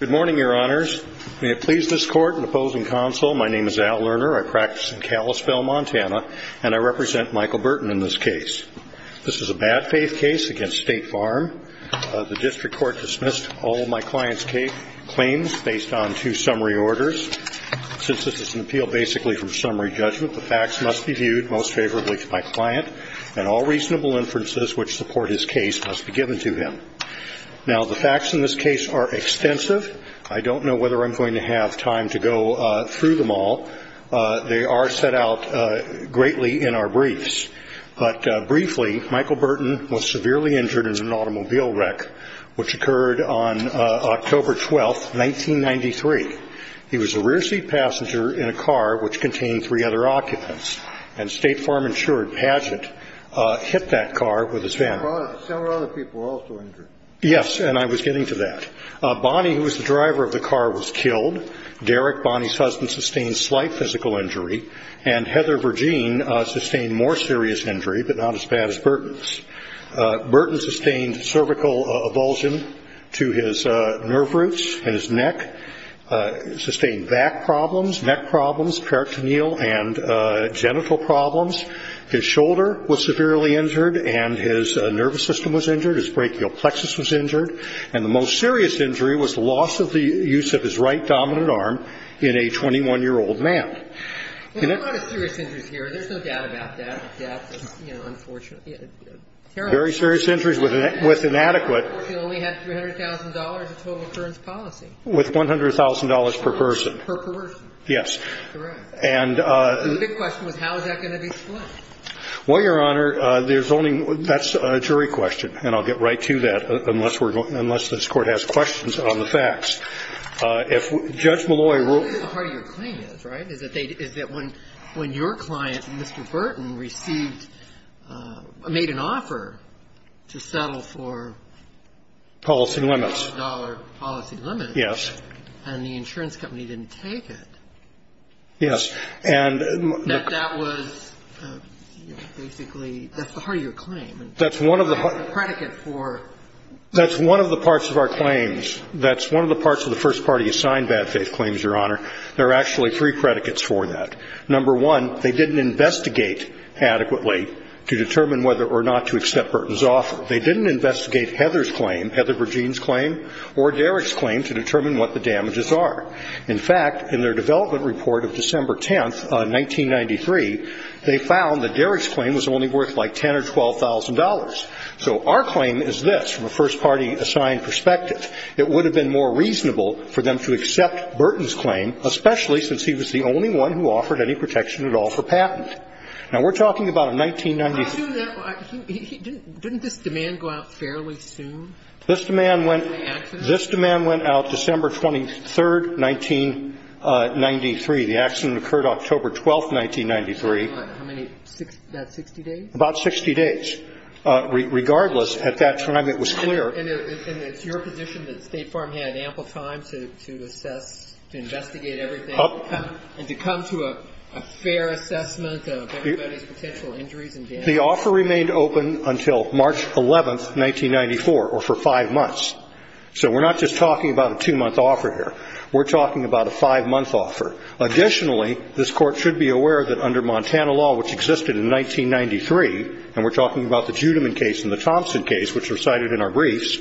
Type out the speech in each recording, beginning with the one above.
Good morning, Your Honors. May it please this Court in opposing counsel, my name is Al Lerner. I practice in Kalispell, Montana, and I represent Michael Burton in this case. This is a bad faith case against State Farm. The district court dismissed all of my client's claims based on two summary orders. Since this is an appeal basically from summary judgment, the facts must be viewed most favorably to my client, and all reasonable inferences which support his case must be given to him. Now, the facts in this case are extensive. I don't know whether I'm going to have time to go through them all. They are set out greatly in our briefs. But briefly, Michael Burton was severely injured in an automobile wreck, which occurred on October 12, 1993. He was a rear seat passenger in a car which contained three other occupants, and State Farm insured pageant hit that car with his van. Several other people were also injured. Yes, and I was getting to that. Bonnie, who was the driver of the car, was killed. Derek, Bonnie's husband, sustained slight physical injury, and Heather Verjean sustained more serious injury, but not as bad as Burton's. Burton sustained cervical avulsion to his nerve roots and his neck, sustained back problems, neck problems, peritoneal and genital problems. His shoulder was severely injured and his nervous system was injured, his brachial plexus was injured, and the most serious injury was loss of the use of his right dominant arm in a 21-year-old man. And there's a lot of serious injuries here. There's no doubt about that, death, you know, unfortunately, terrible injuries. Very serious injuries with inadequate. He only had $300,000 of total insurance policy. With $100,000 per person. Per person. Yes. Correct. And the big question was how is that going to be explained? Well, Your Honor, there's only – that's a jury question, and I'll get right to that unless we're going – unless this Court has questions on the facts. If Judge Malloy wrote – That's the heart of your claim is, right, is that they – is that when your client, Mr. Burton, received – made an offer to settle for – Policy limits. Dollar policy limits. Yes. And the insurance company didn't take it. Yes. That that was basically – that's the heart of your claim. That's one of the – It's a predicate for – That's one of the parts of our claims. That's one of the parts of the first party-assigned bad faith claims, Your Honor. There are actually three predicates for that. Number one, they didn't investigate adequately to determine whether or not to accept Burton's offer. They didn't investigate Heather's claim, Heather Verjean's claim, or Derrick's claim to determine what the damages are. In fact, in their development report of December 10th, 1993, they found that Derrick's claim was only worth like $10,000 or $12,000. So our claim is this from a first party-assigned perspective. It would have been more reasonable for them to accept Burton's claim, especially since he was the only one who offered any protection at all for patent. Now, we're talking about a 1993 – Didn't this demand go out fairly soon? This demand went – The accident? This demand went out December 23rd, 1993. The accident occurred October 12th, 1993. How many – about 60 days? About 60 days. Regardless, at that time, it was clear. And it's your position that State Farm had ample time to assess, to investigate everything and to come to a fair assessment of everybody's potential injuries and damages? The offer remained open until March 11th, 1994, or for five months. So we're not just talking about a two-month offer here. We're talking about a five-month offer. Additionally, this Court should be aware that under Montana law, which existed in 1993, and we're talking about the Judiman case and the Thompson case, which are cited in our briefs,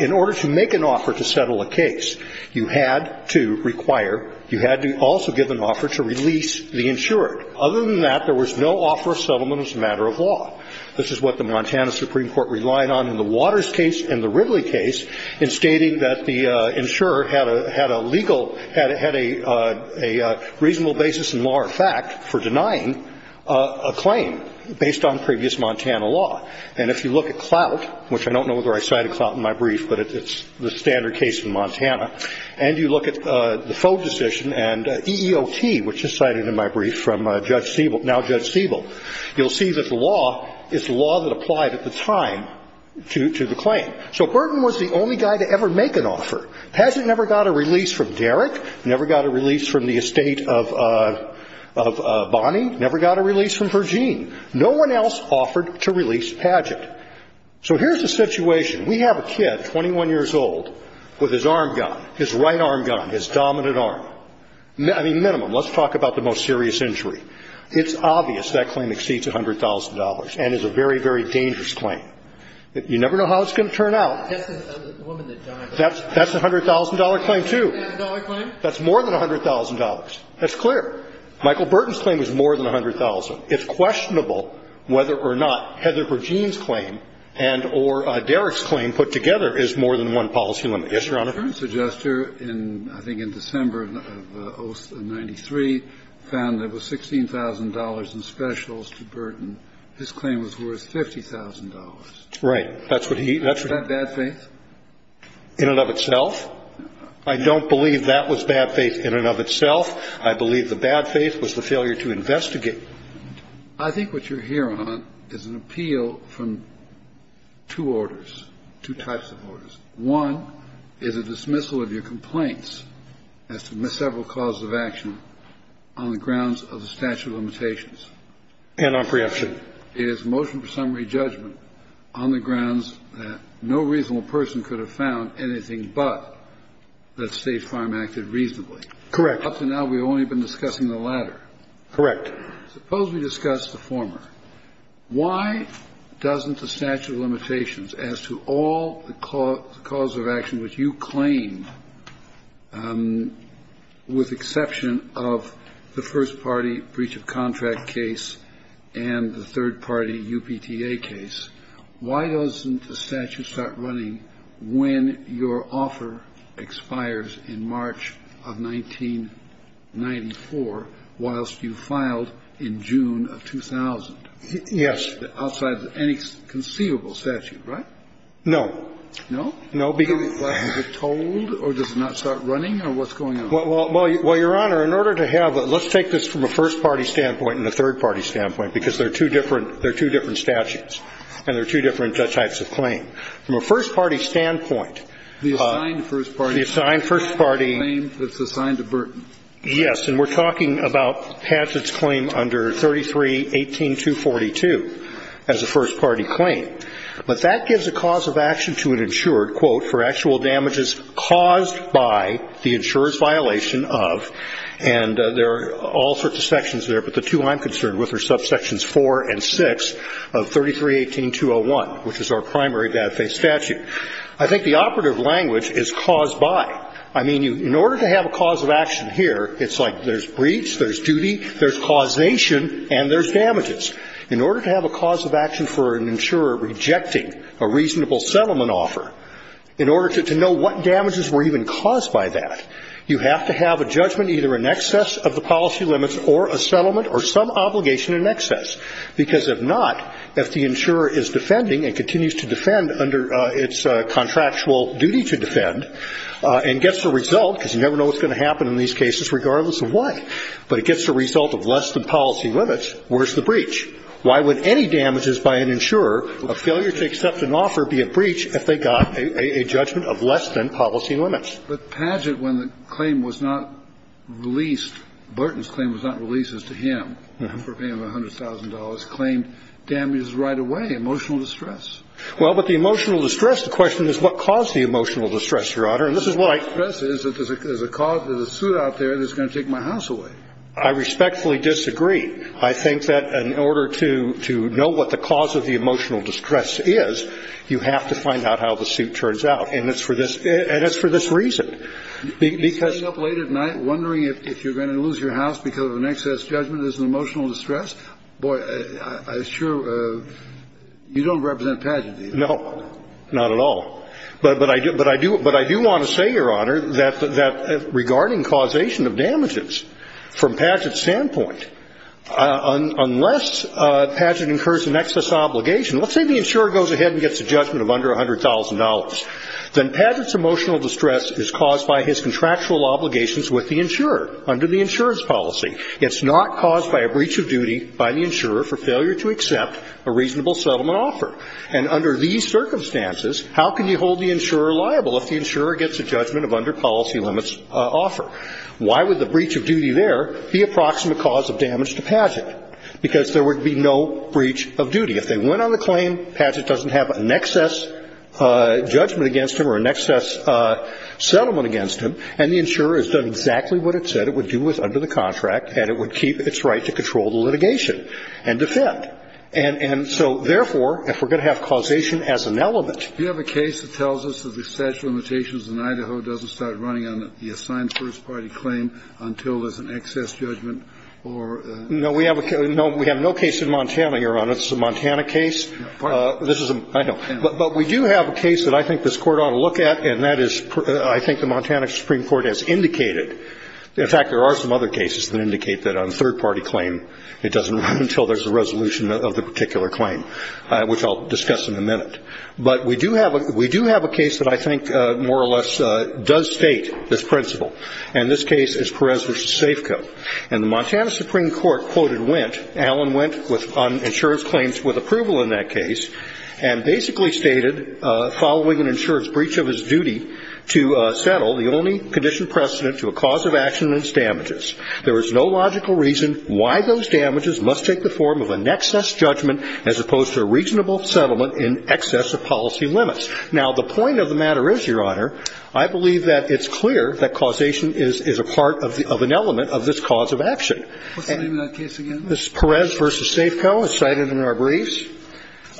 in order to make an offer to settle a case, you had to require – you had to also give an offer to release the insured. Other than that, there was no offer of settlement as a matter of law. This is what the Montana Supreme Court relied on in the Waters case and the Ridley case in stating that the insured had a legal – had a reasonable basis in law or fact for denying a claim based on previous Montana law. And if you look at Clout, which I don't know whether I cited Clout in my brief, but it's the standard case in Montana, and you look at the Foe decision and EEOT, which is cited in my brief from Judge Siebel – now Judge Siebel, you'll see that the law is the law that applied at the time to the claim. So Burton was the only guy to ever make an offer. Padgett never got a release from Derrick, never got a release from the estate of Bonnie, never got a release from Verjean. No one else offered to release Padgett. So here's the situation. We have a kid, 21 years old, with his arm gun, his right arm gun, his dominant arm. I mean, minimum, let's talk about the most serious injury. It's obvious that claim exceeds $100,000 and is a very, very dangerous claim. You never know how it's going to turn out. That's a $100,000 claim, too. That's more than $100,000. That's clear. Michael Burton's claim was more than $100,000. It's questionable whether or not Heather Verjean's claim and or Derrick's claim put together is more than one policy limit. Yes, Your Honor? The current suggester, I think in December of 1993, found that with $16,000 in specials for Burton, his claim was worth $50,000. Right. Is that bad faith? In and of itself. I don't believe that was bad faith in and of itself. I believe the bad faith was the failure to investigate. I think what you're here on is an appeal from two orders, two types of orders. One is a dismissal of your complaints as to several causes of action on the grounds of the statute of limitations. And on preemption. It is motion for summary judgment on the grounds that no reasonable person could have found anything but that State Farm acted reasonably. Correct. Up to now, we've only been discussing the latter. Correct. Suppose we discuss the former. Why doesn't the statute of limitations as to all the cause of action which you claimed with exception of the first-party breach of contract case and the third-party UPTA case, why doesn't the statute start running when your offer expires in March of 1994 whilst you filed in June of 2000? Yes. Outside of any conceivable statute, right? No. No? Is it told or does it not start running or what's going on? Well, Your Honor, in order to have a – let's take this from a first-party standpoint and a third-party standpoint because they're two different – they're two different statutes and they're two different types of claim. From a first-party standpoint, the assigned first-party claim that's assigned to Burton. Yes. And we're talking about Paget's claim under 33-18242 as a first-party claim. But that gives a cause of action to an insurer, quote, for actual damages caused by the insurer's violation of, and there are all sorts of sections there, but the two I'm concerned with are subsections 4 and 6 of 33-18201, which is our primary data-based statute. I think the operative language is caused by. I mean, in order to have a cause of action here, it's like there's breach, there's duty, there's causation, and there's damages. In order to have a cause of action for an insurer rejecting a reasonable settlement offer, in order to know what damages were even caused by that, you have to have a judgment either in excess of the policy limits or a settlement or some obligation in excess. Because if not, if the insurer is defending and continues to defend under its contractual duty to defend and gets the result, because you never know what's going to happen in these cases regardless of what, but it gets the result of less than policy limits, where's the breach? Why would any damages by an insurer, a failure to accept an offer, be a breach if they got a judgment of less than policy limits? But Padgett, when the claim was not released, Burton's claim was not released as to him, for a payment of $100,000, claimed damages right away, emotional distress. Well, but the emotional distress, the question is what caused the emotional distress, Your Honor, and this is what I. The emotional distress is that there's a cause, there's a suit out there that's going to take my house away. I respectfully disagree. I think that in order to know what the cause of the emotional distress is, you have to find out how the suit turns out. And it's for this reason. Because. You're getting up late at night wondering if you're going to lose your house because of an excess judgment, there's an emotional distress? Boy, I assure you, you don't represent Padgett, do you? No, not at all. But I do want to say, Your Honor, that regarding causation of damages, there's an emotional distress. From Padgett's standpoint, unless Padgett incurs an excess obligation, let's say the insurer goes ahead and gets a judgment of under $100,000, then Padgett's emotional distress is caused by his contractual obligations with the insurer under the insurance policy. It's not caused by a breach of duty by the insurer for failure to accept a reasonable settlement offer. And under these circumstances, how can you hold the insurer liable if the insurer gets a judgment of under policy limits offer? Why would the breach of duty there be a proximate cause of damage to Padgett? Because there would be no breach of duty. If they went on the claim, Padgett doesn't have an excess judgment against him or an excess settlement against him, and the insurer has done exactly what it said it would do under the contract, and it would keep its right to control the litigation and defend. And so, therefore, if we're going to have causation as an element. Do you have a case that tells us that the statute of limitations in Idaho doesn't start running on the assigned first party claim until there's an excess judgment or? No. We have no case in Montana, Your Honor. This is a Montana case. This is a, I know. But we do have a case that I think this Court ought to look at, and that is, I think the Montana Supreme Court has indicated. In fact, there are some other cases that indicate that on a third party claim, in a minute. But we do have a case that I think more or less does state this principle. And this case is Perez v. Safeco. And the Montana Supreme Court quoted Wendt, Alan Wendt, on insurance claims with approval in that case, and basically stated, following an insurance breach of his duty to settle, the only condition precedent to a cause of action is damages. There is no logical reason why those damages must take the form of an excess judgment as opposed to a reasonable settlement in excess of policy limits. Now, the point of the matter is, Your Honor, I believe that it's clear that causation is a part of an element of this cause of action. What's the name of that case again? This is Perez v. Safeco. It's cited in our briefs.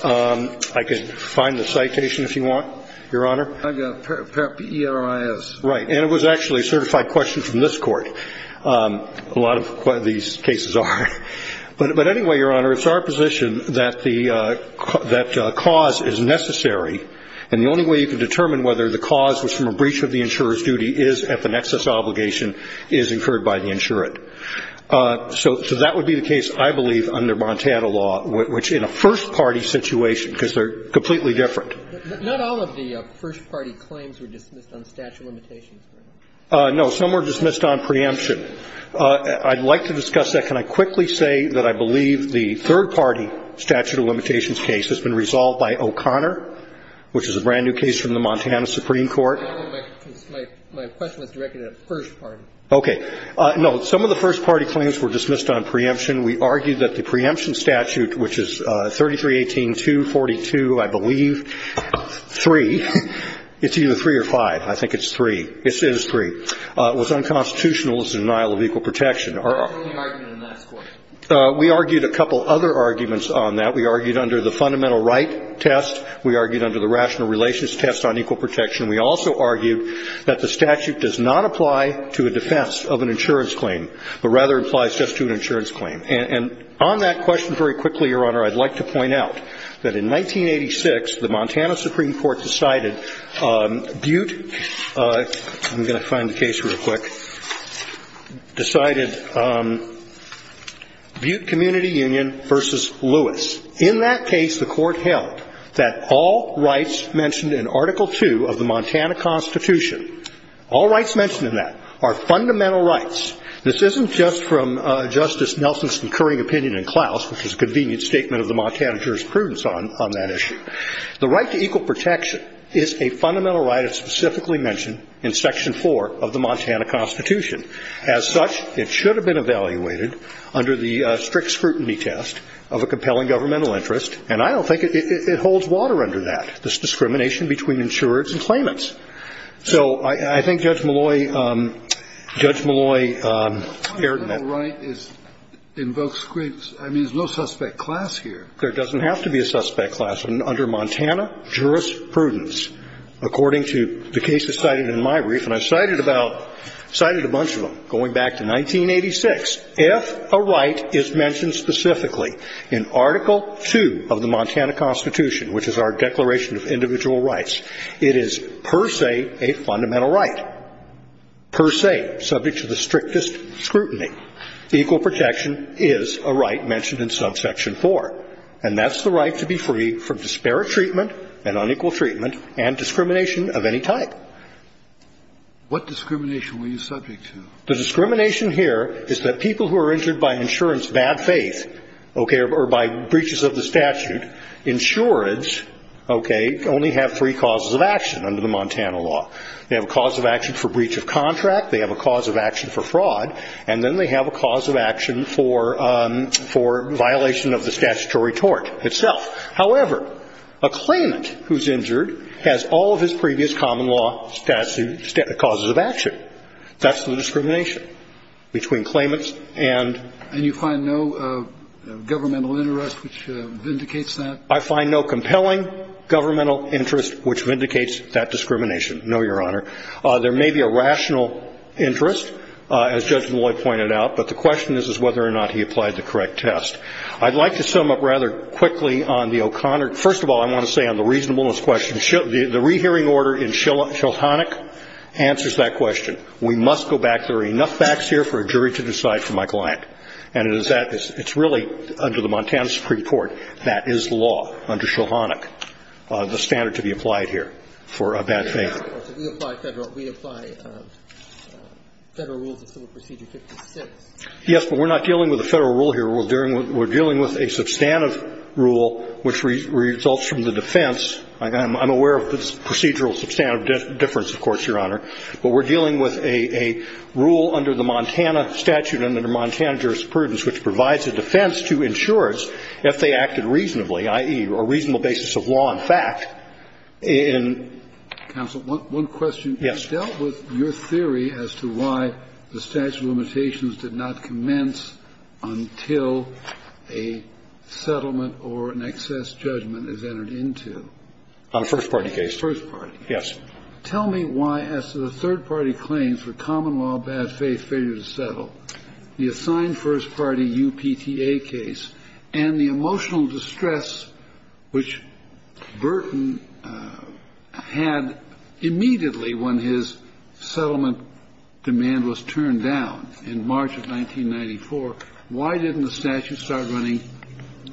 I could find the citation if you want, Your Honor. I've got P-E-R-I-S. Right. And it was actually a certified question from this Court. A lot of these cases are. But anyway, Your Honor, it's our position that the cause is necessary, and the only way to determine whether the cause was from a breach of the insurer's duty is if an excess obligation is incurred by the insurant. So that would be the case, I believe, under Montana law, which in a first-party situation, because they're completely different. Not all of the first-party claims were dismissed on statute of limitations, were they? Some were dismissed on preemption. I'd like to discuss that. Can I quickly say that I believe the third-party statute of limitations case has been resolved by O'Connor, which is a brand-new case from the Montana Supreme Court? My question was directed at first-party. Okay. No, some of the first-party claims were dismissed on preemption. We argue that the preemption statute, which is 3318-242, I believe, 3. It's either 3 or 5. I think it's 3. It is 3. It was unconstitutional as a denial of equal protection. We argued a couple other arguments on that. We argued under the fundamental right test. We argued under the rational relations test on equal protection. We also argued that the statute does not apply to a defense of an insurance claim, but rather applies just to an insurance claim. And on that question very quickly, Your Honor, I'd like to point out that in 1986, the Montana Supreme Court decided Butte. I'm going to find the case real quick. Decided Butte Community Union v. Lewis. In that case, the Court held that all rights mentioned in Article II of the Montana Constitution, all rights mentioned in that are fundamental rights. This isn't just from Justice Nelson's concurring opinion in Klaus, which is a convenient statement of the Montana jurisprudence on that issue. The right to equal protection is a fundamental right that's specifically mentioned in Section 4 of the Montana Constitution. As such, it should have been evaluated under the strict scrutiny test of a compelling governmental interest. And I don't think it holds water under that, this discrimination between insurers and claimants. So I think Judge Malloy erred in that. A fundamental right invokes scruples. I mean, there's no suspect class here. There doesn't have to be a suspect class under Montana jurisprudence. According to the cases cited in my brief, and I've cited about, cited a bunch of them, going back to 1986, if a right is mentioned specifically in Article II of the Montana Constitution, which is our Declaration of Individual Rights, it is per se a fundamental right, per se, subject to the strictest scrutiny. Equal protection is a right mentioned in subsection 4. And that's the right to be free from disparate treatment and unequal treatment and discrimination of any type. What discrimination were you subject to? The discrimination here is that people who are injured by insurance bad faith, okay, or by breaches of the statute, insurance, okay, only have three causes of action under the Montana law. They have a cause of action for breach of contract. They have a cause of action for fraud. And then they have a cause of action for violation of the statutory tort itself. However, a claimant who's injured has all of his previous common law causes of action. That's the discrimination between claimants and you find no governmental interest which vindicates that. I find no compelling governmental interest which vindicates that discrimination. No, Your Honor. There may be a rational interest, as Judge Malloy pointed out, but the question is whether or not he applied the correct test. I'd like to sum up rather quickly on the O'Connor. First of all, I want to say on the reasonableness question, the rehearing order in Shilhannock answers that question. We must go back. There are enough facts here for a jury to decide for my client. And it is that. It's really under the Montana Supreme Court that is the law under Shilhannock, the standard to be applied here for a bad faith. We apply Federal rules of civil procedure 56. Yes, but we're not dealing with a Federal rule here. We're dealing with a substantive rule which results from the defense. I'm aware of the procedural substantive difference, of course, Your Honor. But we're dealing with a rule under the Montana statute and under Montana jurisprudence which provides a defense to insurers if they acted reasonably, i.e., a reasonable basis of law and fact in the case. Counsel, one question. Yes. You dealt with your theory as to why the statute of limitations did not commence until a settlement or an excess judgment is entered into. On a first-party case. First-party case. Yes. Tell me why, as to the third-party claims for common law bad faith failure to settle, the assigned first-party UPTA case, and the emotional distress which Burton had immediately when his settlement demand was turned down in March of 1994, why didn't the statute start running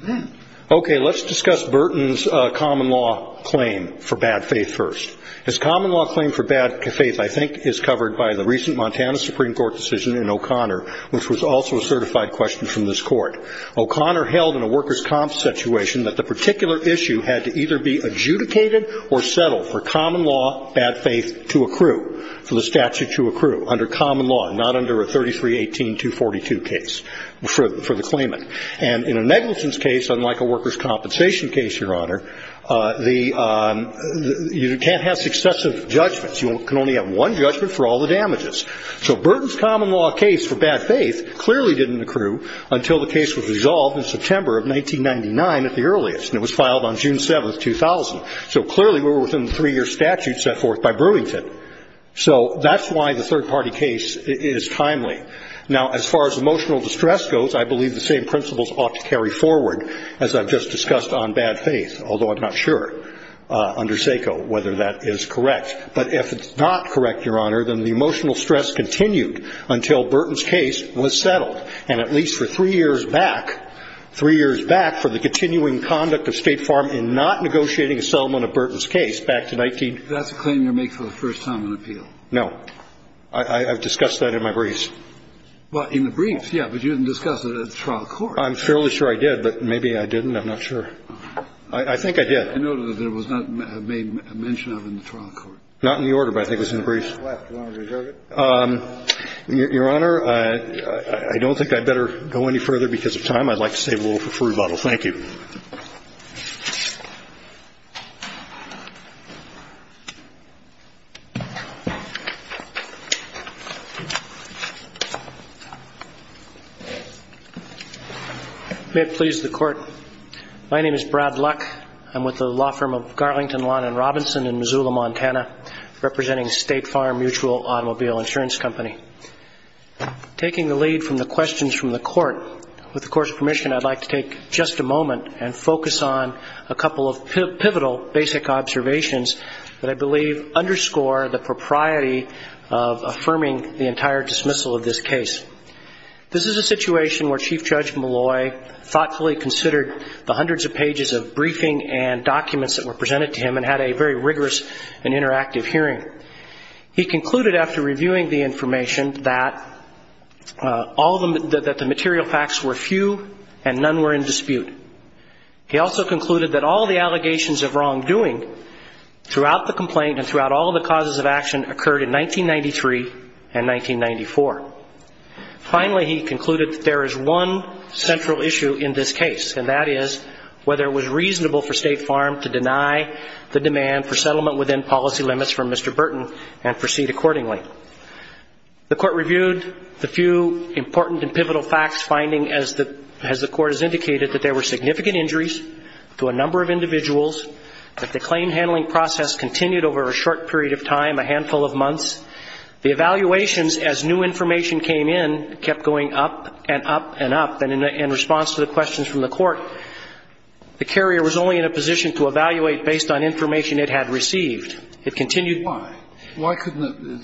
then? Okay. Let's discuss Burton's common law claim for bad faith first. His common law claim for bad faith, I think, is covered by the recent Montana Supreme Court decision in O'Connor, which was also a certified question from this Court. O'Connor held in a workers' comp situation that the particular issue had to either be adjudicated or settled for common law bad faith to accrue, for the statute to accrue under common law, not under a 3318-242 case for the claimant. And in a negligence case, unlike a workers' compensation case, Your Honor, the you can't have successive judgments. You can only have one judgment for all the damages. So Burton's common law case for bad faith clearly didn't accrue until the case was resolved in September of 1999 at the earliest, and it was filed on June 7, 2000. So clearly we were within the three-year statute set forth by Brewington. So that's why the third-party case is timely. Now, as far as emotional distress goes, I believe the same principles ought to carry forward as I've just discussed on bad faith, although I'm not sure under SACO whether that is correct. But if it's not correct, Your Honor, then the emotional stress continued until Burton's case was settled, and at least for three years back, three years back, for the continuing conduct of State Farm in not negotiating a settlement of Burton's case back to 19- Kennedy. That's a claim you make for the first time in appeal. No. I've discussed that in my briefs. Well, in the briefs, yeah, but you didn't discuss it at the trial court. I'm fairly sure I did, but maybe I didn't. I'm not sure. I think I did. I noted that it was not made mention of in the trial court. Not in the order, but I think it was in the briefs. Your Honor, I don't think I'd better go any further because of time. I'd like to save a little for a fruit bottle. Thank you. May it please the Court. My name is Brad Luck. I'm with the law firm of Garlington Lawn & Robinson in Missoula, Montana, representing State Farm Mutual Automobile Insurance Company. Taking the lead from the questions from the Court, with the Court's permission, I'd like to take just a moment and focus on a couple of pivotal basic observations that I believe underscore the propriety of affirming the entire dismissal of this case. This is a situation where Chief Judge Malloy thoughtfully considered the hundreds of pages of briefing and documents that were presented to him and had a very rigorous and interactive hearing. He concluded after reviewing the information that the material facts were few and none were in dispute. He also concluded that all the allegations of wrongdoing throughout the complaint and throughout all the causes of action occurred in 1993 and 1994. Finally, he concluded that there is one central issue in this case, and that is whether it was reasonable for State Farm to deny the demand for settlement within policy limits from Mr. Burton and proceed accordingly. The Court reviewed the few important and pivotal facts finding as the Court has indicated that there were significant injuries to a number of individuals, that the claim handling process continued over a short period of time, a handful of months. The evaluations, as new information came in, kept going up and up and up. And in response to the questions from the Court, the carrier was only in a position to evaluate based on information it had received. It continued. Why? Why couldn't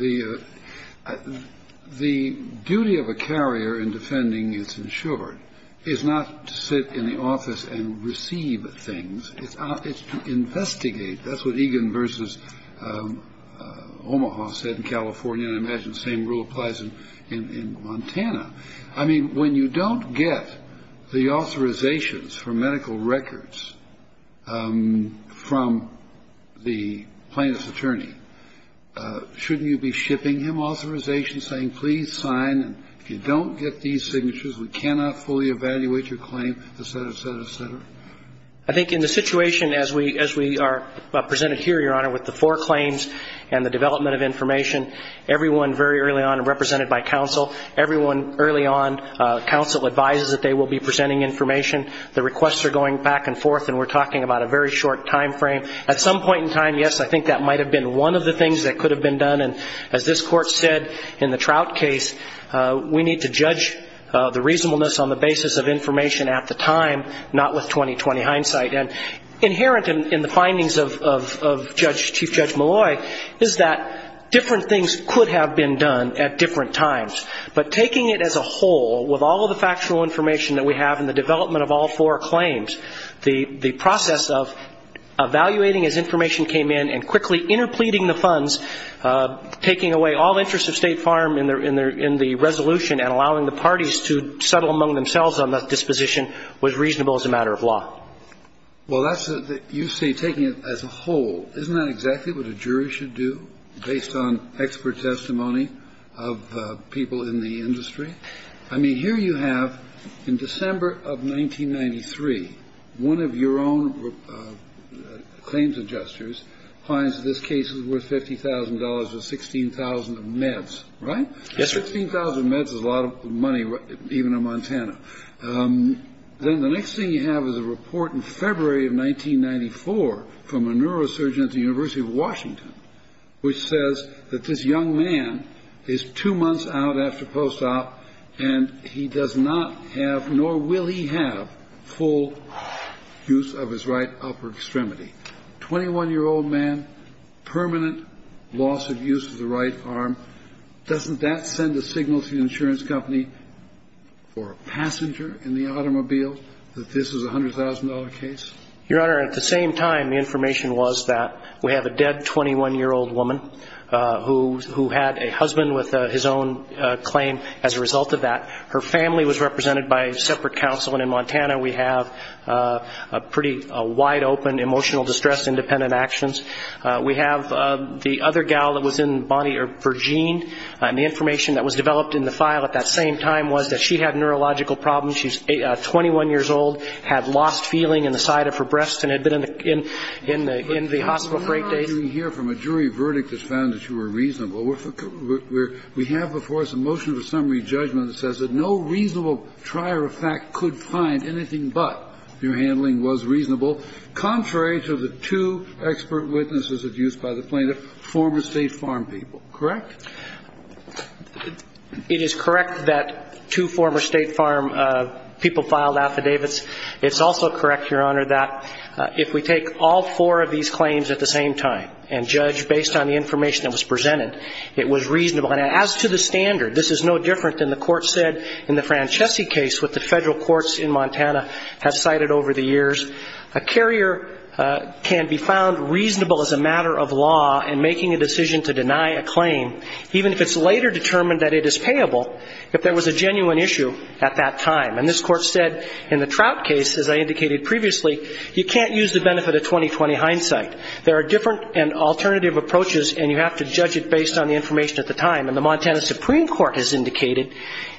the duty of a carrier in defending its insured is not to sit in the office and receive things. It's to investigate. That's what Egan v. Omaha said in California. And I imagine the same rule applies in Montana. I mean, when you don't get the authorizations for medical records from the plaintiff's attorney, shouldn't you be shipping him authorizations saying, please sign, and if you don't get these signatures, we cannot fully evaluate your claim, et cetera, et cetera, et cetera? I think in the situation as we are presented here, Your Honor, with the four claims and the development of information, everyone very early on represented by counsel, everyone early on, counsel advises that they will be presenting information. The requests are going back and forth, and we're talking about a very short time frame. At some point in time, yes, I think that might have been one of the things that could have been done. And as this Court said in the Trout case, we need to judge the reasonableness on the basis of information at the time, not with 20-20 hindsight. And inherent in the findings of Chief Judge Malloy is that different things could have been done at different times, but taking it as a whole, with all of the factual information that we have in the development of all four claims, the process of evaluating as information came in and quickly interpleading the funds, taking away all interest of State Farm in the resolution and allowing the parties to settle among themselves on the disposition was reasonable as a matter of law. Well, you say taking it as a whole. Isn't that exactly what a jury should do based on expert testimony of people in the industry? I mean, here you have, in December of 1993, one of your own claims adjusters finds this case is worth $50,000 or $16,000 of meds. Right? Yes, sir. $16,000 of meds is a lot of money, even in Montana. Then the next thing you have is a report in February of 1994 from a neurosurgeon at the University of Washington which says that this young man is two months out after post-op and he does not have, nor will he have, full use of his right upper extremity. Twenty-one-year-old man, permanent loss of use of the right arm. Doesn't that send a signal to the insurance company or a passenger in the automobile that this is a $100,000 case? Your Honor, at the same time, the information was that we have a dead 21-year-old woman who had a husband with his own claim as a result of that. Her family was represented by a separate counsel, and in Montana we have a pretty wide-open emotional distress independent actions. We have the other gal that was in Bonnie or Virginia, and the information that was developed in the file at that same time was that she had neurological problems. She's 21 years old, had lost feeling in the side of her breast and had been in the hospital for eight days. Kennedy, I'm sorry to hear from a jury verdict that found that you were reasonable. We have, of course, a motion for summary judgment that says that no reasonable trier of fact could find anything but your handling was reasonable, contrary to the two expert witnesses of use by the plaintiff, former State Farm people. Correct? It is correct that two former State Farm people filed affidavits. It's also correct, Your Honor, that if we take all four of these claims at the same time and judge based on the information that was presented, it was reasonable. And as to the standard, this is no different than the court said in the Francesi case with the federal courts in Montana have cited over the years. A carrier can be found reasonable as a matter of law in making a decision to deny a claim, even if it's later determined that it is payable, if there was a genuine issue at that time. And this Court said in the Trout case, as I indicated previously, you can't use the benefit of 20-20 hindsight. There are different and alternative approaches, and you have to judge it based on the information at the time. And the Montana Supreme Court has indicated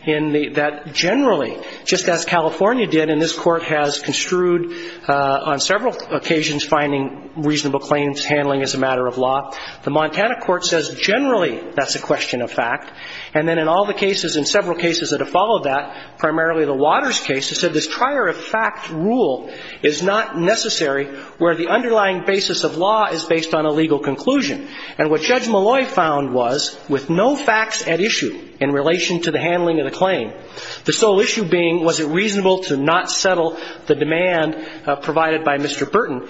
that generally, just as California did, and this Court has construed on several occasions finding reasonable claims, handling as a matter of law, the Montana Court says generally that's a question of fact. And then in all the cases, in several cases that have followed that, primarily the Waters case, it said this trier of fact rule is not necessary where the underlying basis of law is based on a legal conclusion. And what Judge Malloy found was with no facts at issue in relation to the handling of the claim, the sole issue being was it reasonable to not settle the demand provided by Mr. Burton,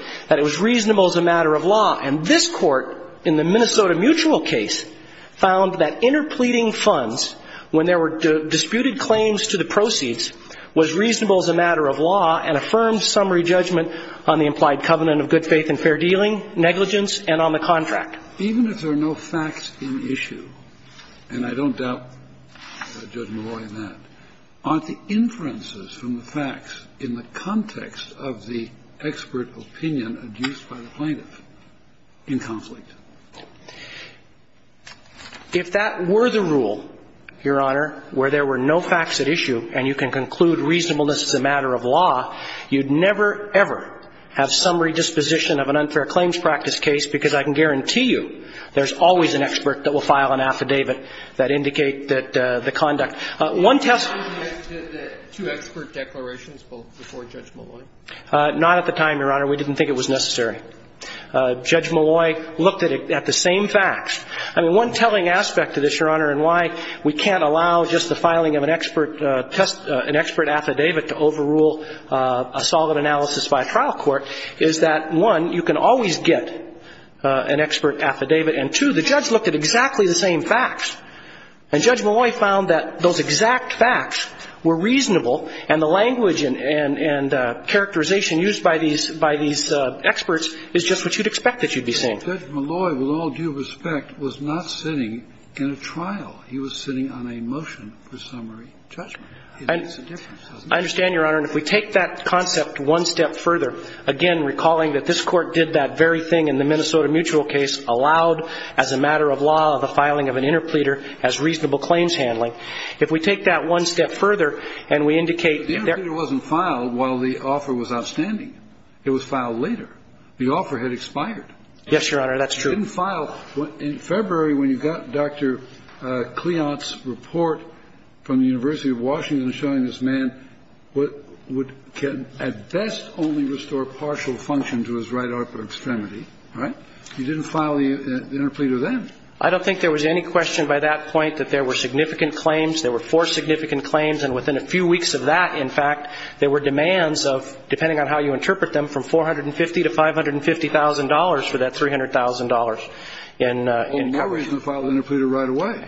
And this Court, in the Minnesota Mutual case, found that interpleading funds when there were disputed claims to the proceeds was reasonable as a matter of law and affirmed summary judgment on the implied covenant of good faith and fair dealing, negligence, and on the contract. Even if there are no facts in issue, and I don't doubt Judge Malloy in that, aren't the inferences from the facts in the context of the expert opinion adduced by the plaintiff in conflict? If that were the rule, Your Honor, where there were no facts at issue and you can conclude reasonableness as a matter of law, you'd never, ever have summary disposition of an unfair claims practice case, because I can guarantee you there's always an expert that will file an affidavit that indicate that the conduct. One test. Two expert declarations before Judge Malloy? Not at the time, Your Honor. We didn't think it was necessary. Judge Malloy looked at the same facts. I mean, one telling aspect of this, Your Honor, and why we can't allow just the filing of an expert test, an expert affidavit to overrule a solid analysis by a trial court is that, one, you can always get an expert affidavit, and, two, the judge looked at exactly the same facts. And Judge Malloy found that those exact facts were reasonable, and the language and characterization used by these experts is just what you'd expect that you'd be seeing. But Judge Malloy, with all due respect, was not sitting in a trial. He was sitting on a motion for summary judgment. I understand, Your Honor, and if we take that concept one step further, again, recalling that this Court did that very thing in the Minnesota Mutual case, allowed as a matter of law the filing of an interpleader as reasonable claims handling. If we take that one step further and we indicate that their ---- But the interpleader wasn't filed while the offer was outstanding. It was filed later. The offer had expired. Yes, Your Honor, that's true. You didn't file. In February, when you got Dr. Cleon's report from the University of Washington showing this man what would at best only restore partial function to his right arm, you didn't file the interpleader then. I don't think there was any question by that point that there were significant claims. There were four significant claims, and within a few weeks of that, in fact, there were demands of, depending on how you interpret them, from $450,000 to $550,000 for that $300,000 in coverage. There was no reason to file the interpleader right away.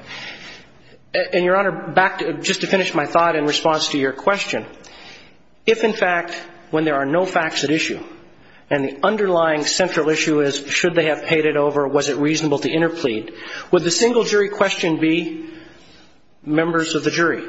And, Your Honor, back to ---- just to finish my thought in response to your question, if, in fact, when there are no facts at issue and the underlying central issue is should they have paid it over, was it reasonable to interplead, would the single jury question be, members of the jury,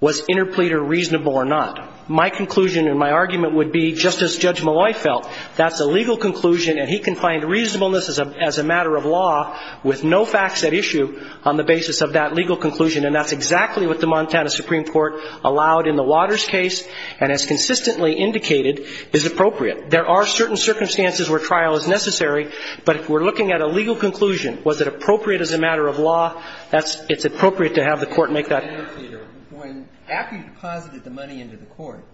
was interpleader reasonable or not? My conclusion and my argument would be, just as Judge Malloy felt, that's a legal conclusion and he can find reasonableness as a matter of law with no facts at issue on the basis of that legal conclusion, and that's exactly what the Montana Supreme Court allowed in the Waters case and has consistently indicated is appropriate. There are certain circumstances where trial is necessary, but if we're looking at a legal conclusion, was it appropriate as a matter of law, it's appropriate to have the court make that interpleader. After you deposited the money into the court,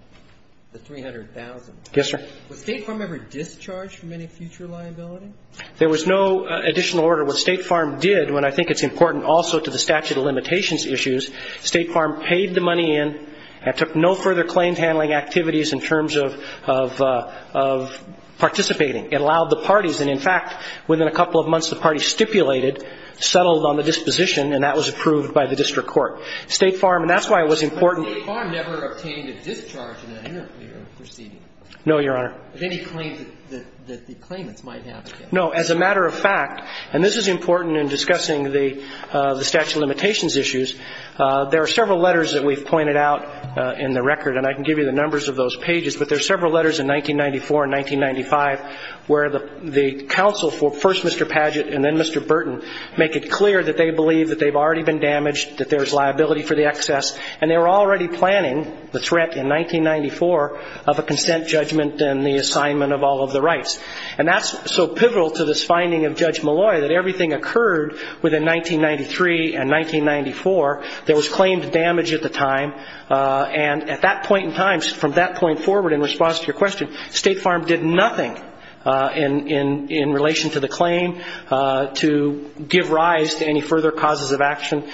the $300,000, was State Farm ever discharged from any future liability? There was no additional order. What State Farm did, and I think it's important also to the statute of limitations issues, State Farm paid the money in and took no further claims handling activities in terms of participating. It allowed the parties, and in fact, within a couple of months the parties stipulated, settled on the disposition and that was approved by the district court. State Farm, and that's why it was important But State Farm never obtained a discharge in that interpleader proceeding? No, Your Honor. Of any claims that the claimants might have? No. As a matter of fact, and this is important in discussing the statute of limitations issues, there are several letters that we've pointed out in the record, and I can give you the numbers of those pages, but there are several letters in 1994 and 1995 where the counsel for first Mr. Padgett and then Mr. Burton make it clear that they believe that they've already been damaged, that there's liability for the excess, and they were already planning the threat in 1994 of a consent judgment and the assignment of all of the rights. And that's so pivotal to this finding of Judge Malloy that everything occurred within 1993 and 1994. There was claimed damage at the time, and at that point in time, from that point forward in response to your question, State Farm did nothing in relation to the claim to give rise to any further causes of action.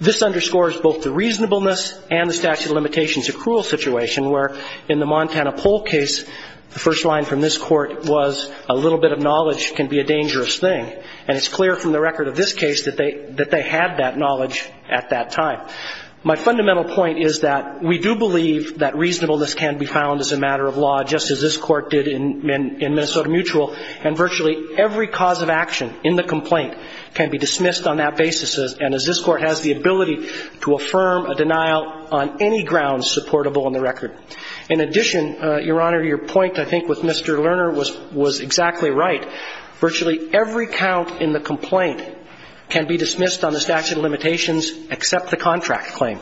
This underscores both the reasonableness and the statute of limitations, a cruel situation where in the Montana Poll case, the first line from this court was, a little bit of knowledge can be a dangerous thing, and it's clear from the record of this case that they had that knowledge at that time. My fundamental point is that we do believe that reasonableness can be found as a matter of law, just as this court did in Minnesota Mutual, and virtually every cause of action in the complaint can be dismissed on that basis, and as this court has the ability to affirm a denial on any grounds supportable in the record. In addition, Your Honor, your point, I think, with Mr. Lerner was exactly right. Virtually every count in the complaint can be dismissed on the statute of limitations except the contract claim.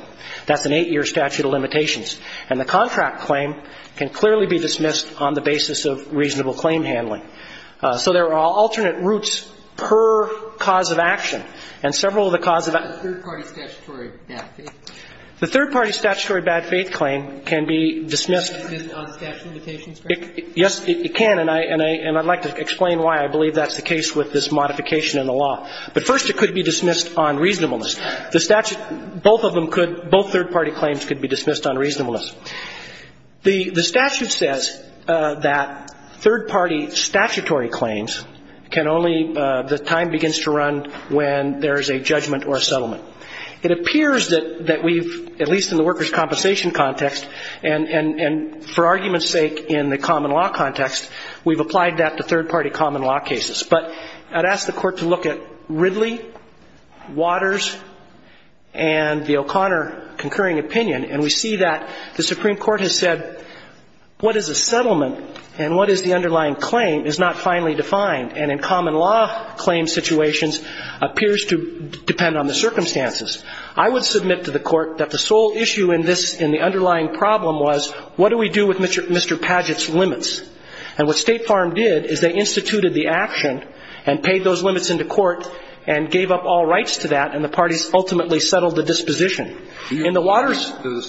That's an eight-year statute of limitations, and the contract claim can clearly be dismissed on the basis of reasonable claim handling. So there are alternate routes per cause of action, and several of the causes of action The third-party statutory bad faith claim can be dismissed on statute of limitations, correct? Yes, it can, and I'd like to explain why I believe that's the case with this modification in the law. But first, it could be dismissed on reasonableness. The statute, both of them could, both third-party claims could be dismissed on reasonableness. The statute says that third-party statutory claims can only, the time begins to run when there is a judgment or a settlement. It appears that we've, at least in the workers' compensation context, and for argument's sake in the common law context, we've applied that to third-party common law cases. But I'd ask the Court to look at Ridley, Waters, and the O'Connor concurring opinion, and we see that the Supreme Court has said what is a settlement and what is the underlying claim is not finally defined. And in common law claim situations, appears to depend on the circumstances. I would submit to the Court that the sole issue in this, in the underlying problem was what do we do with Mr. Padgett's limits? And what State Farm did is they instituted the action and paid those limits into court and gave up all rights to that, and the parties ultimately settled the disposition. In the Waters ----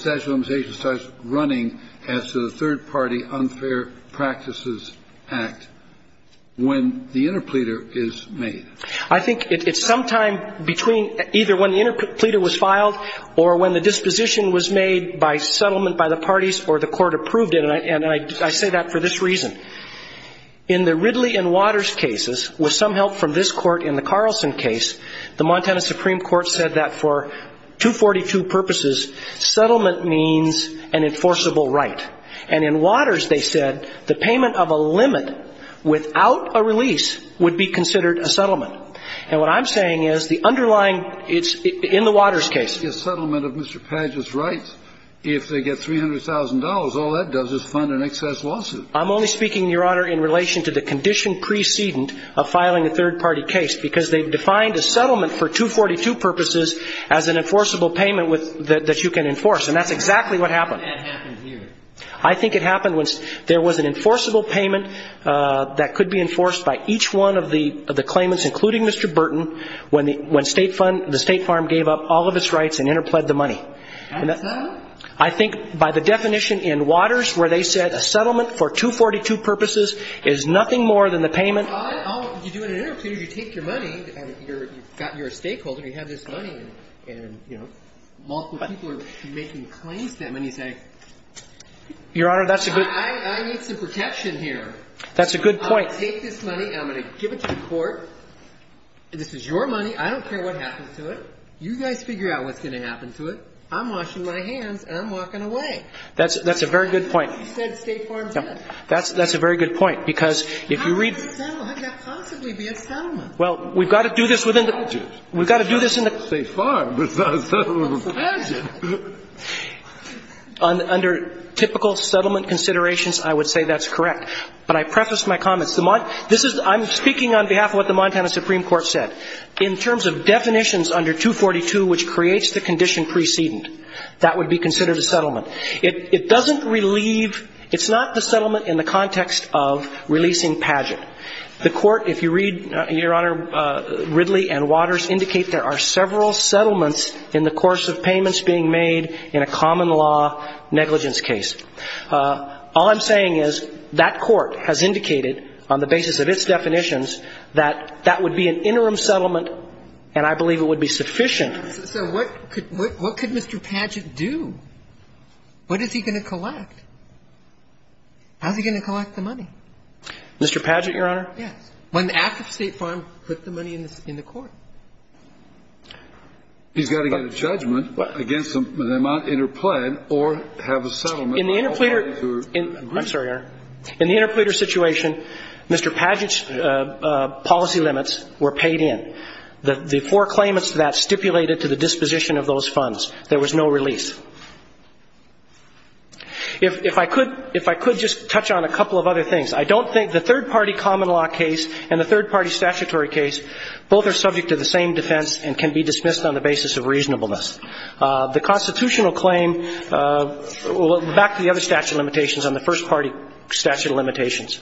I think it's sometime between either when the interpleader was filed or when the disposition was made by settlement by the parties or the court approved it, and I say that for this reason. In the Ridley and Waters cases, with some help from this Court in the Carlson case, the Montana Supreme Court said that for 242 purposes, settling the disposition settlement means an enforceable right. And in Waters, they said the payment of a limit without a release would be considered a settlement. And what I'm saying is the underlying ---- it's in the Waters case. A settlement of Mr. Padgett's rights, if they get $300,000, all that does is fund an excess lawsuit. I'm only speaking, Your Honor, in relation to the condition precedent of filing a third party case, because they've defined a settlement for 242 purposes as an enforceable payment that you can enforce. And that's exactly what happened. I think it happened when there was an enforceable payment that could be enforced by each one of the claimants, including Mr. Burton, when the State Farm gave up all of its rights and interpled the money. I think by the definition in Waters where they said a settlement for 242 purposes is nothing more than the payment ---- You take your money, you're a stakeholder, you have this money, and, you know, multiple people are making claims to that money and you say, I need some protection here. That's a good point. I'm going to take this money and I'm going to give it to the court. This is your money. I don't care what happens to it. You guys figure out what's going to happen to it. I'm washing my hands and I'm walking away. That's a very good point. That's what you said State Farm said. That's a very good point because if you read ---- How could that possibly be a settlement? Well, we've got to do this within the ---- We've got to do this in the ---- State Farm, it's not a settlement. Under typical settlement considerations, I would say that's correct. But I prefaced my comments. I'm speaking on behalf of what the Montana Supreme Court said. In terms of definitions under 242, which creates the condition precedent, that would be considered a settlement. It doesn't relieve, it's not the settlement in the context of releasing Padgett. The court, if you read, Your Honor, Ridley and Waters indicate there are several settlements in the course of payments being made in a common law negligence case. All I'm saying is that court has indicated on the basis of its definitions that that would be an interim settlement and I believe it would be sufficient. So what could Mr. Padgett do? What is he going to collect? How is he going to collect the money? Mr. Padgett, Your Honor? Yes. When the act of State Farm put the money in the court. He's got to get a judgment against them. They might interplay or have a settlement. In the interpleader ---- I'm sorry, Your Honor. In the interpleader situation, Mr. Padgett's policy limits were paid in. The four claimants to that stipulated to the disposition of those funds. There was no release. If I could just touch on a couple of other things. I don't think the third-party common law case and the third-party statutory case, both are subject to the same defense and can be dismissed on the basis of reasonableness. The constitutional claim, back to the other statute of limitations on the first party statute of limitations.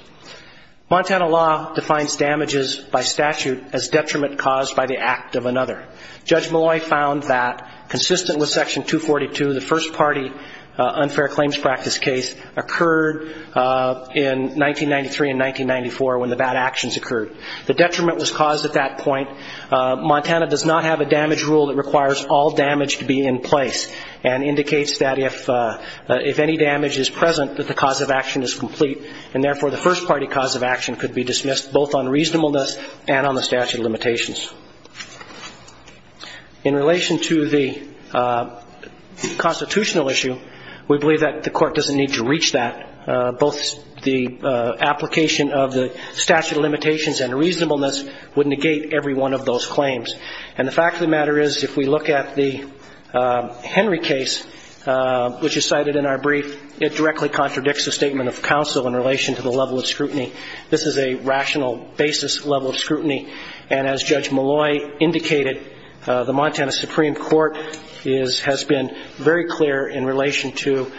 Montana law defines damages by statute as detriment caused by the act of another. Judge Malloy found that, consistent with section 242, the first-party unfair claims practice case occurred in 1993 and 1994 when the bad actions occurred. The detriment was caused at that point. Montana does not have a damage rule that requires all damage to be in place and indicates that if any damage is present, that the cause of action is complete and, therefore, the first-party cause of action could be dismissed both on reasonableness and on the statute of limitations. In relation to the constitutional issue, we believe that the court doesn't need to reach that. Both the application of the statute of limitations and reasonableness would negate every one of those claims. And the fact of the matter is, if we look at the Henry case, which is cited in our brief, it directly contradicts the statement of counsel in relation to the level of scrutiny. This is a rational basis level of scrutiny. And as Judge Malloy indicated, the Montana Supreme Court has been very clear in relation to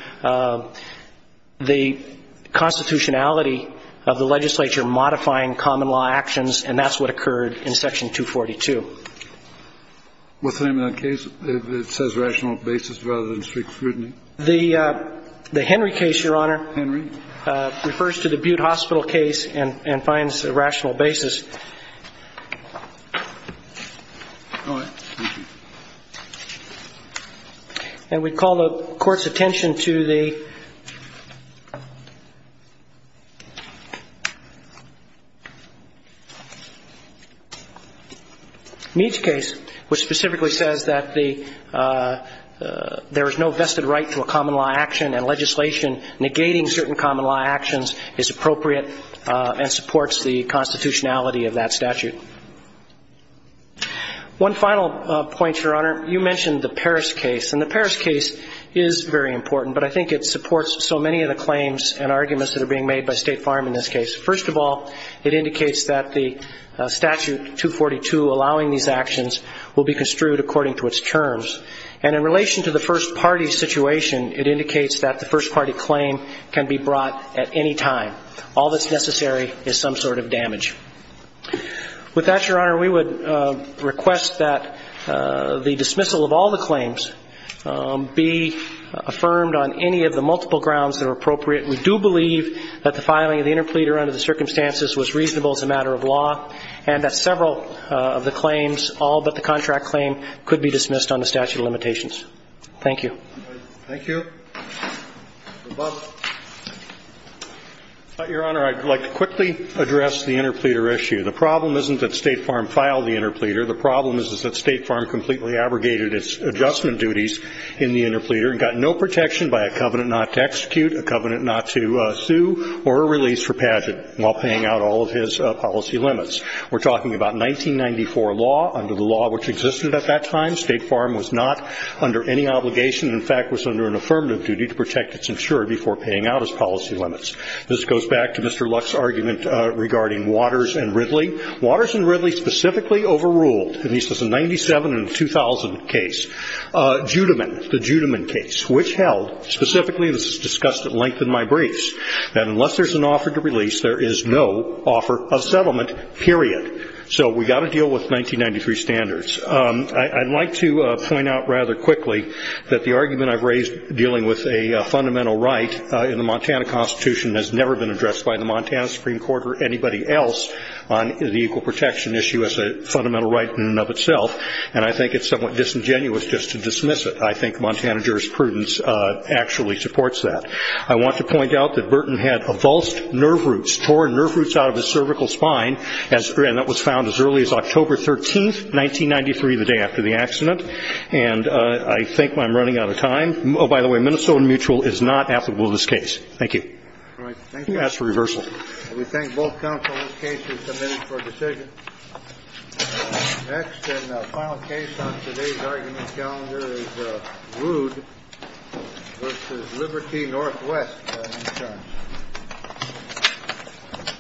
the constitutionality of the legislature modifying common law actions, and that's what occurred in section 242. What's the name of that case that says rational basis rather than strict scrutiny? The Henry case, Your Honor. Henry. It refers to the Butte Hospital case and finds a rational basis. All right. Thank you. And we call the Court's attention to the Meach case, which specifically says that there is no vested right to a common law action and legislation negating certain common law actions is appropriate and supports the constitutionality of the legislature. One final point, Your Honor. You mentioned the Paris case, and the Paris case is very important, but I think it supports so many of the claims and arguments that are being made by State Farm in this case. First of all, it indicates that the statute 242 allowing these actions will be construed according to its terms. And in relation to the first party situation, it indicates that the first party claim can be brought at any time. All that's necessary is some sort of damage. With that, Your Honor, we would request that the dismissal of all the claims be affirmed on any of the multiple grounds that are appropriate. We do believe that the filing of the interpleader under the circumstances was reasonable as a matter of law, and that several of the claims, all but the contract claim, could be dismissed under statute of limitations. Thank you. Thank you. Your Honor, I'd like to quickly address the interpleader issue. The problem isn't that State Farm filed the interpleader. The problem is that State Farm completely abrogated its adjustment duties in the interpleader and got no protection by a covenant not to execute, a covenant not to sue, or a release for pageant while paying out all of his policy limits. We're talking about 1994 law. Under the law which existed at that time, State Farm was not under any obligation. In fact, it was under an affirmative duty to protect its insurer before paying out his policy limits. This goes back to Mr. Luck's argument regarding Waters and Ridley. Waters and Ridley specifically overruled, at least in the 1997 and 2000 case, Judiman, the Judiman case, which held specifically, and this is discussed at length in my briefs, that unless there's an offer to release, there is no offer of settlement, period. So we've got to deal with 1993 standards. I'd like to point out rather quickly that the argument I've raised dealing with a fundamental right in the Montana Constitution has never been addressed by the Montana Supreme Court or anybody else on the equal protection issue as a fundamental right in and of itself, and I think it's somewhat disingenuous just to dismiss it. I think Montana jurisprudence actually supports that. I want to point out that Burton had avulsed nerve roots, torn nerve roots out of his accident, and I think I'm running out of time. Oh, by the way, Minnesota Mutual is not applicable to this case. Thank you. You're asked for reversal. We thank both counsel in this case who submitted for decision. Next and final case on today's argument calendar is Wood v. Liberty Northwest, in turn.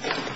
Thank you.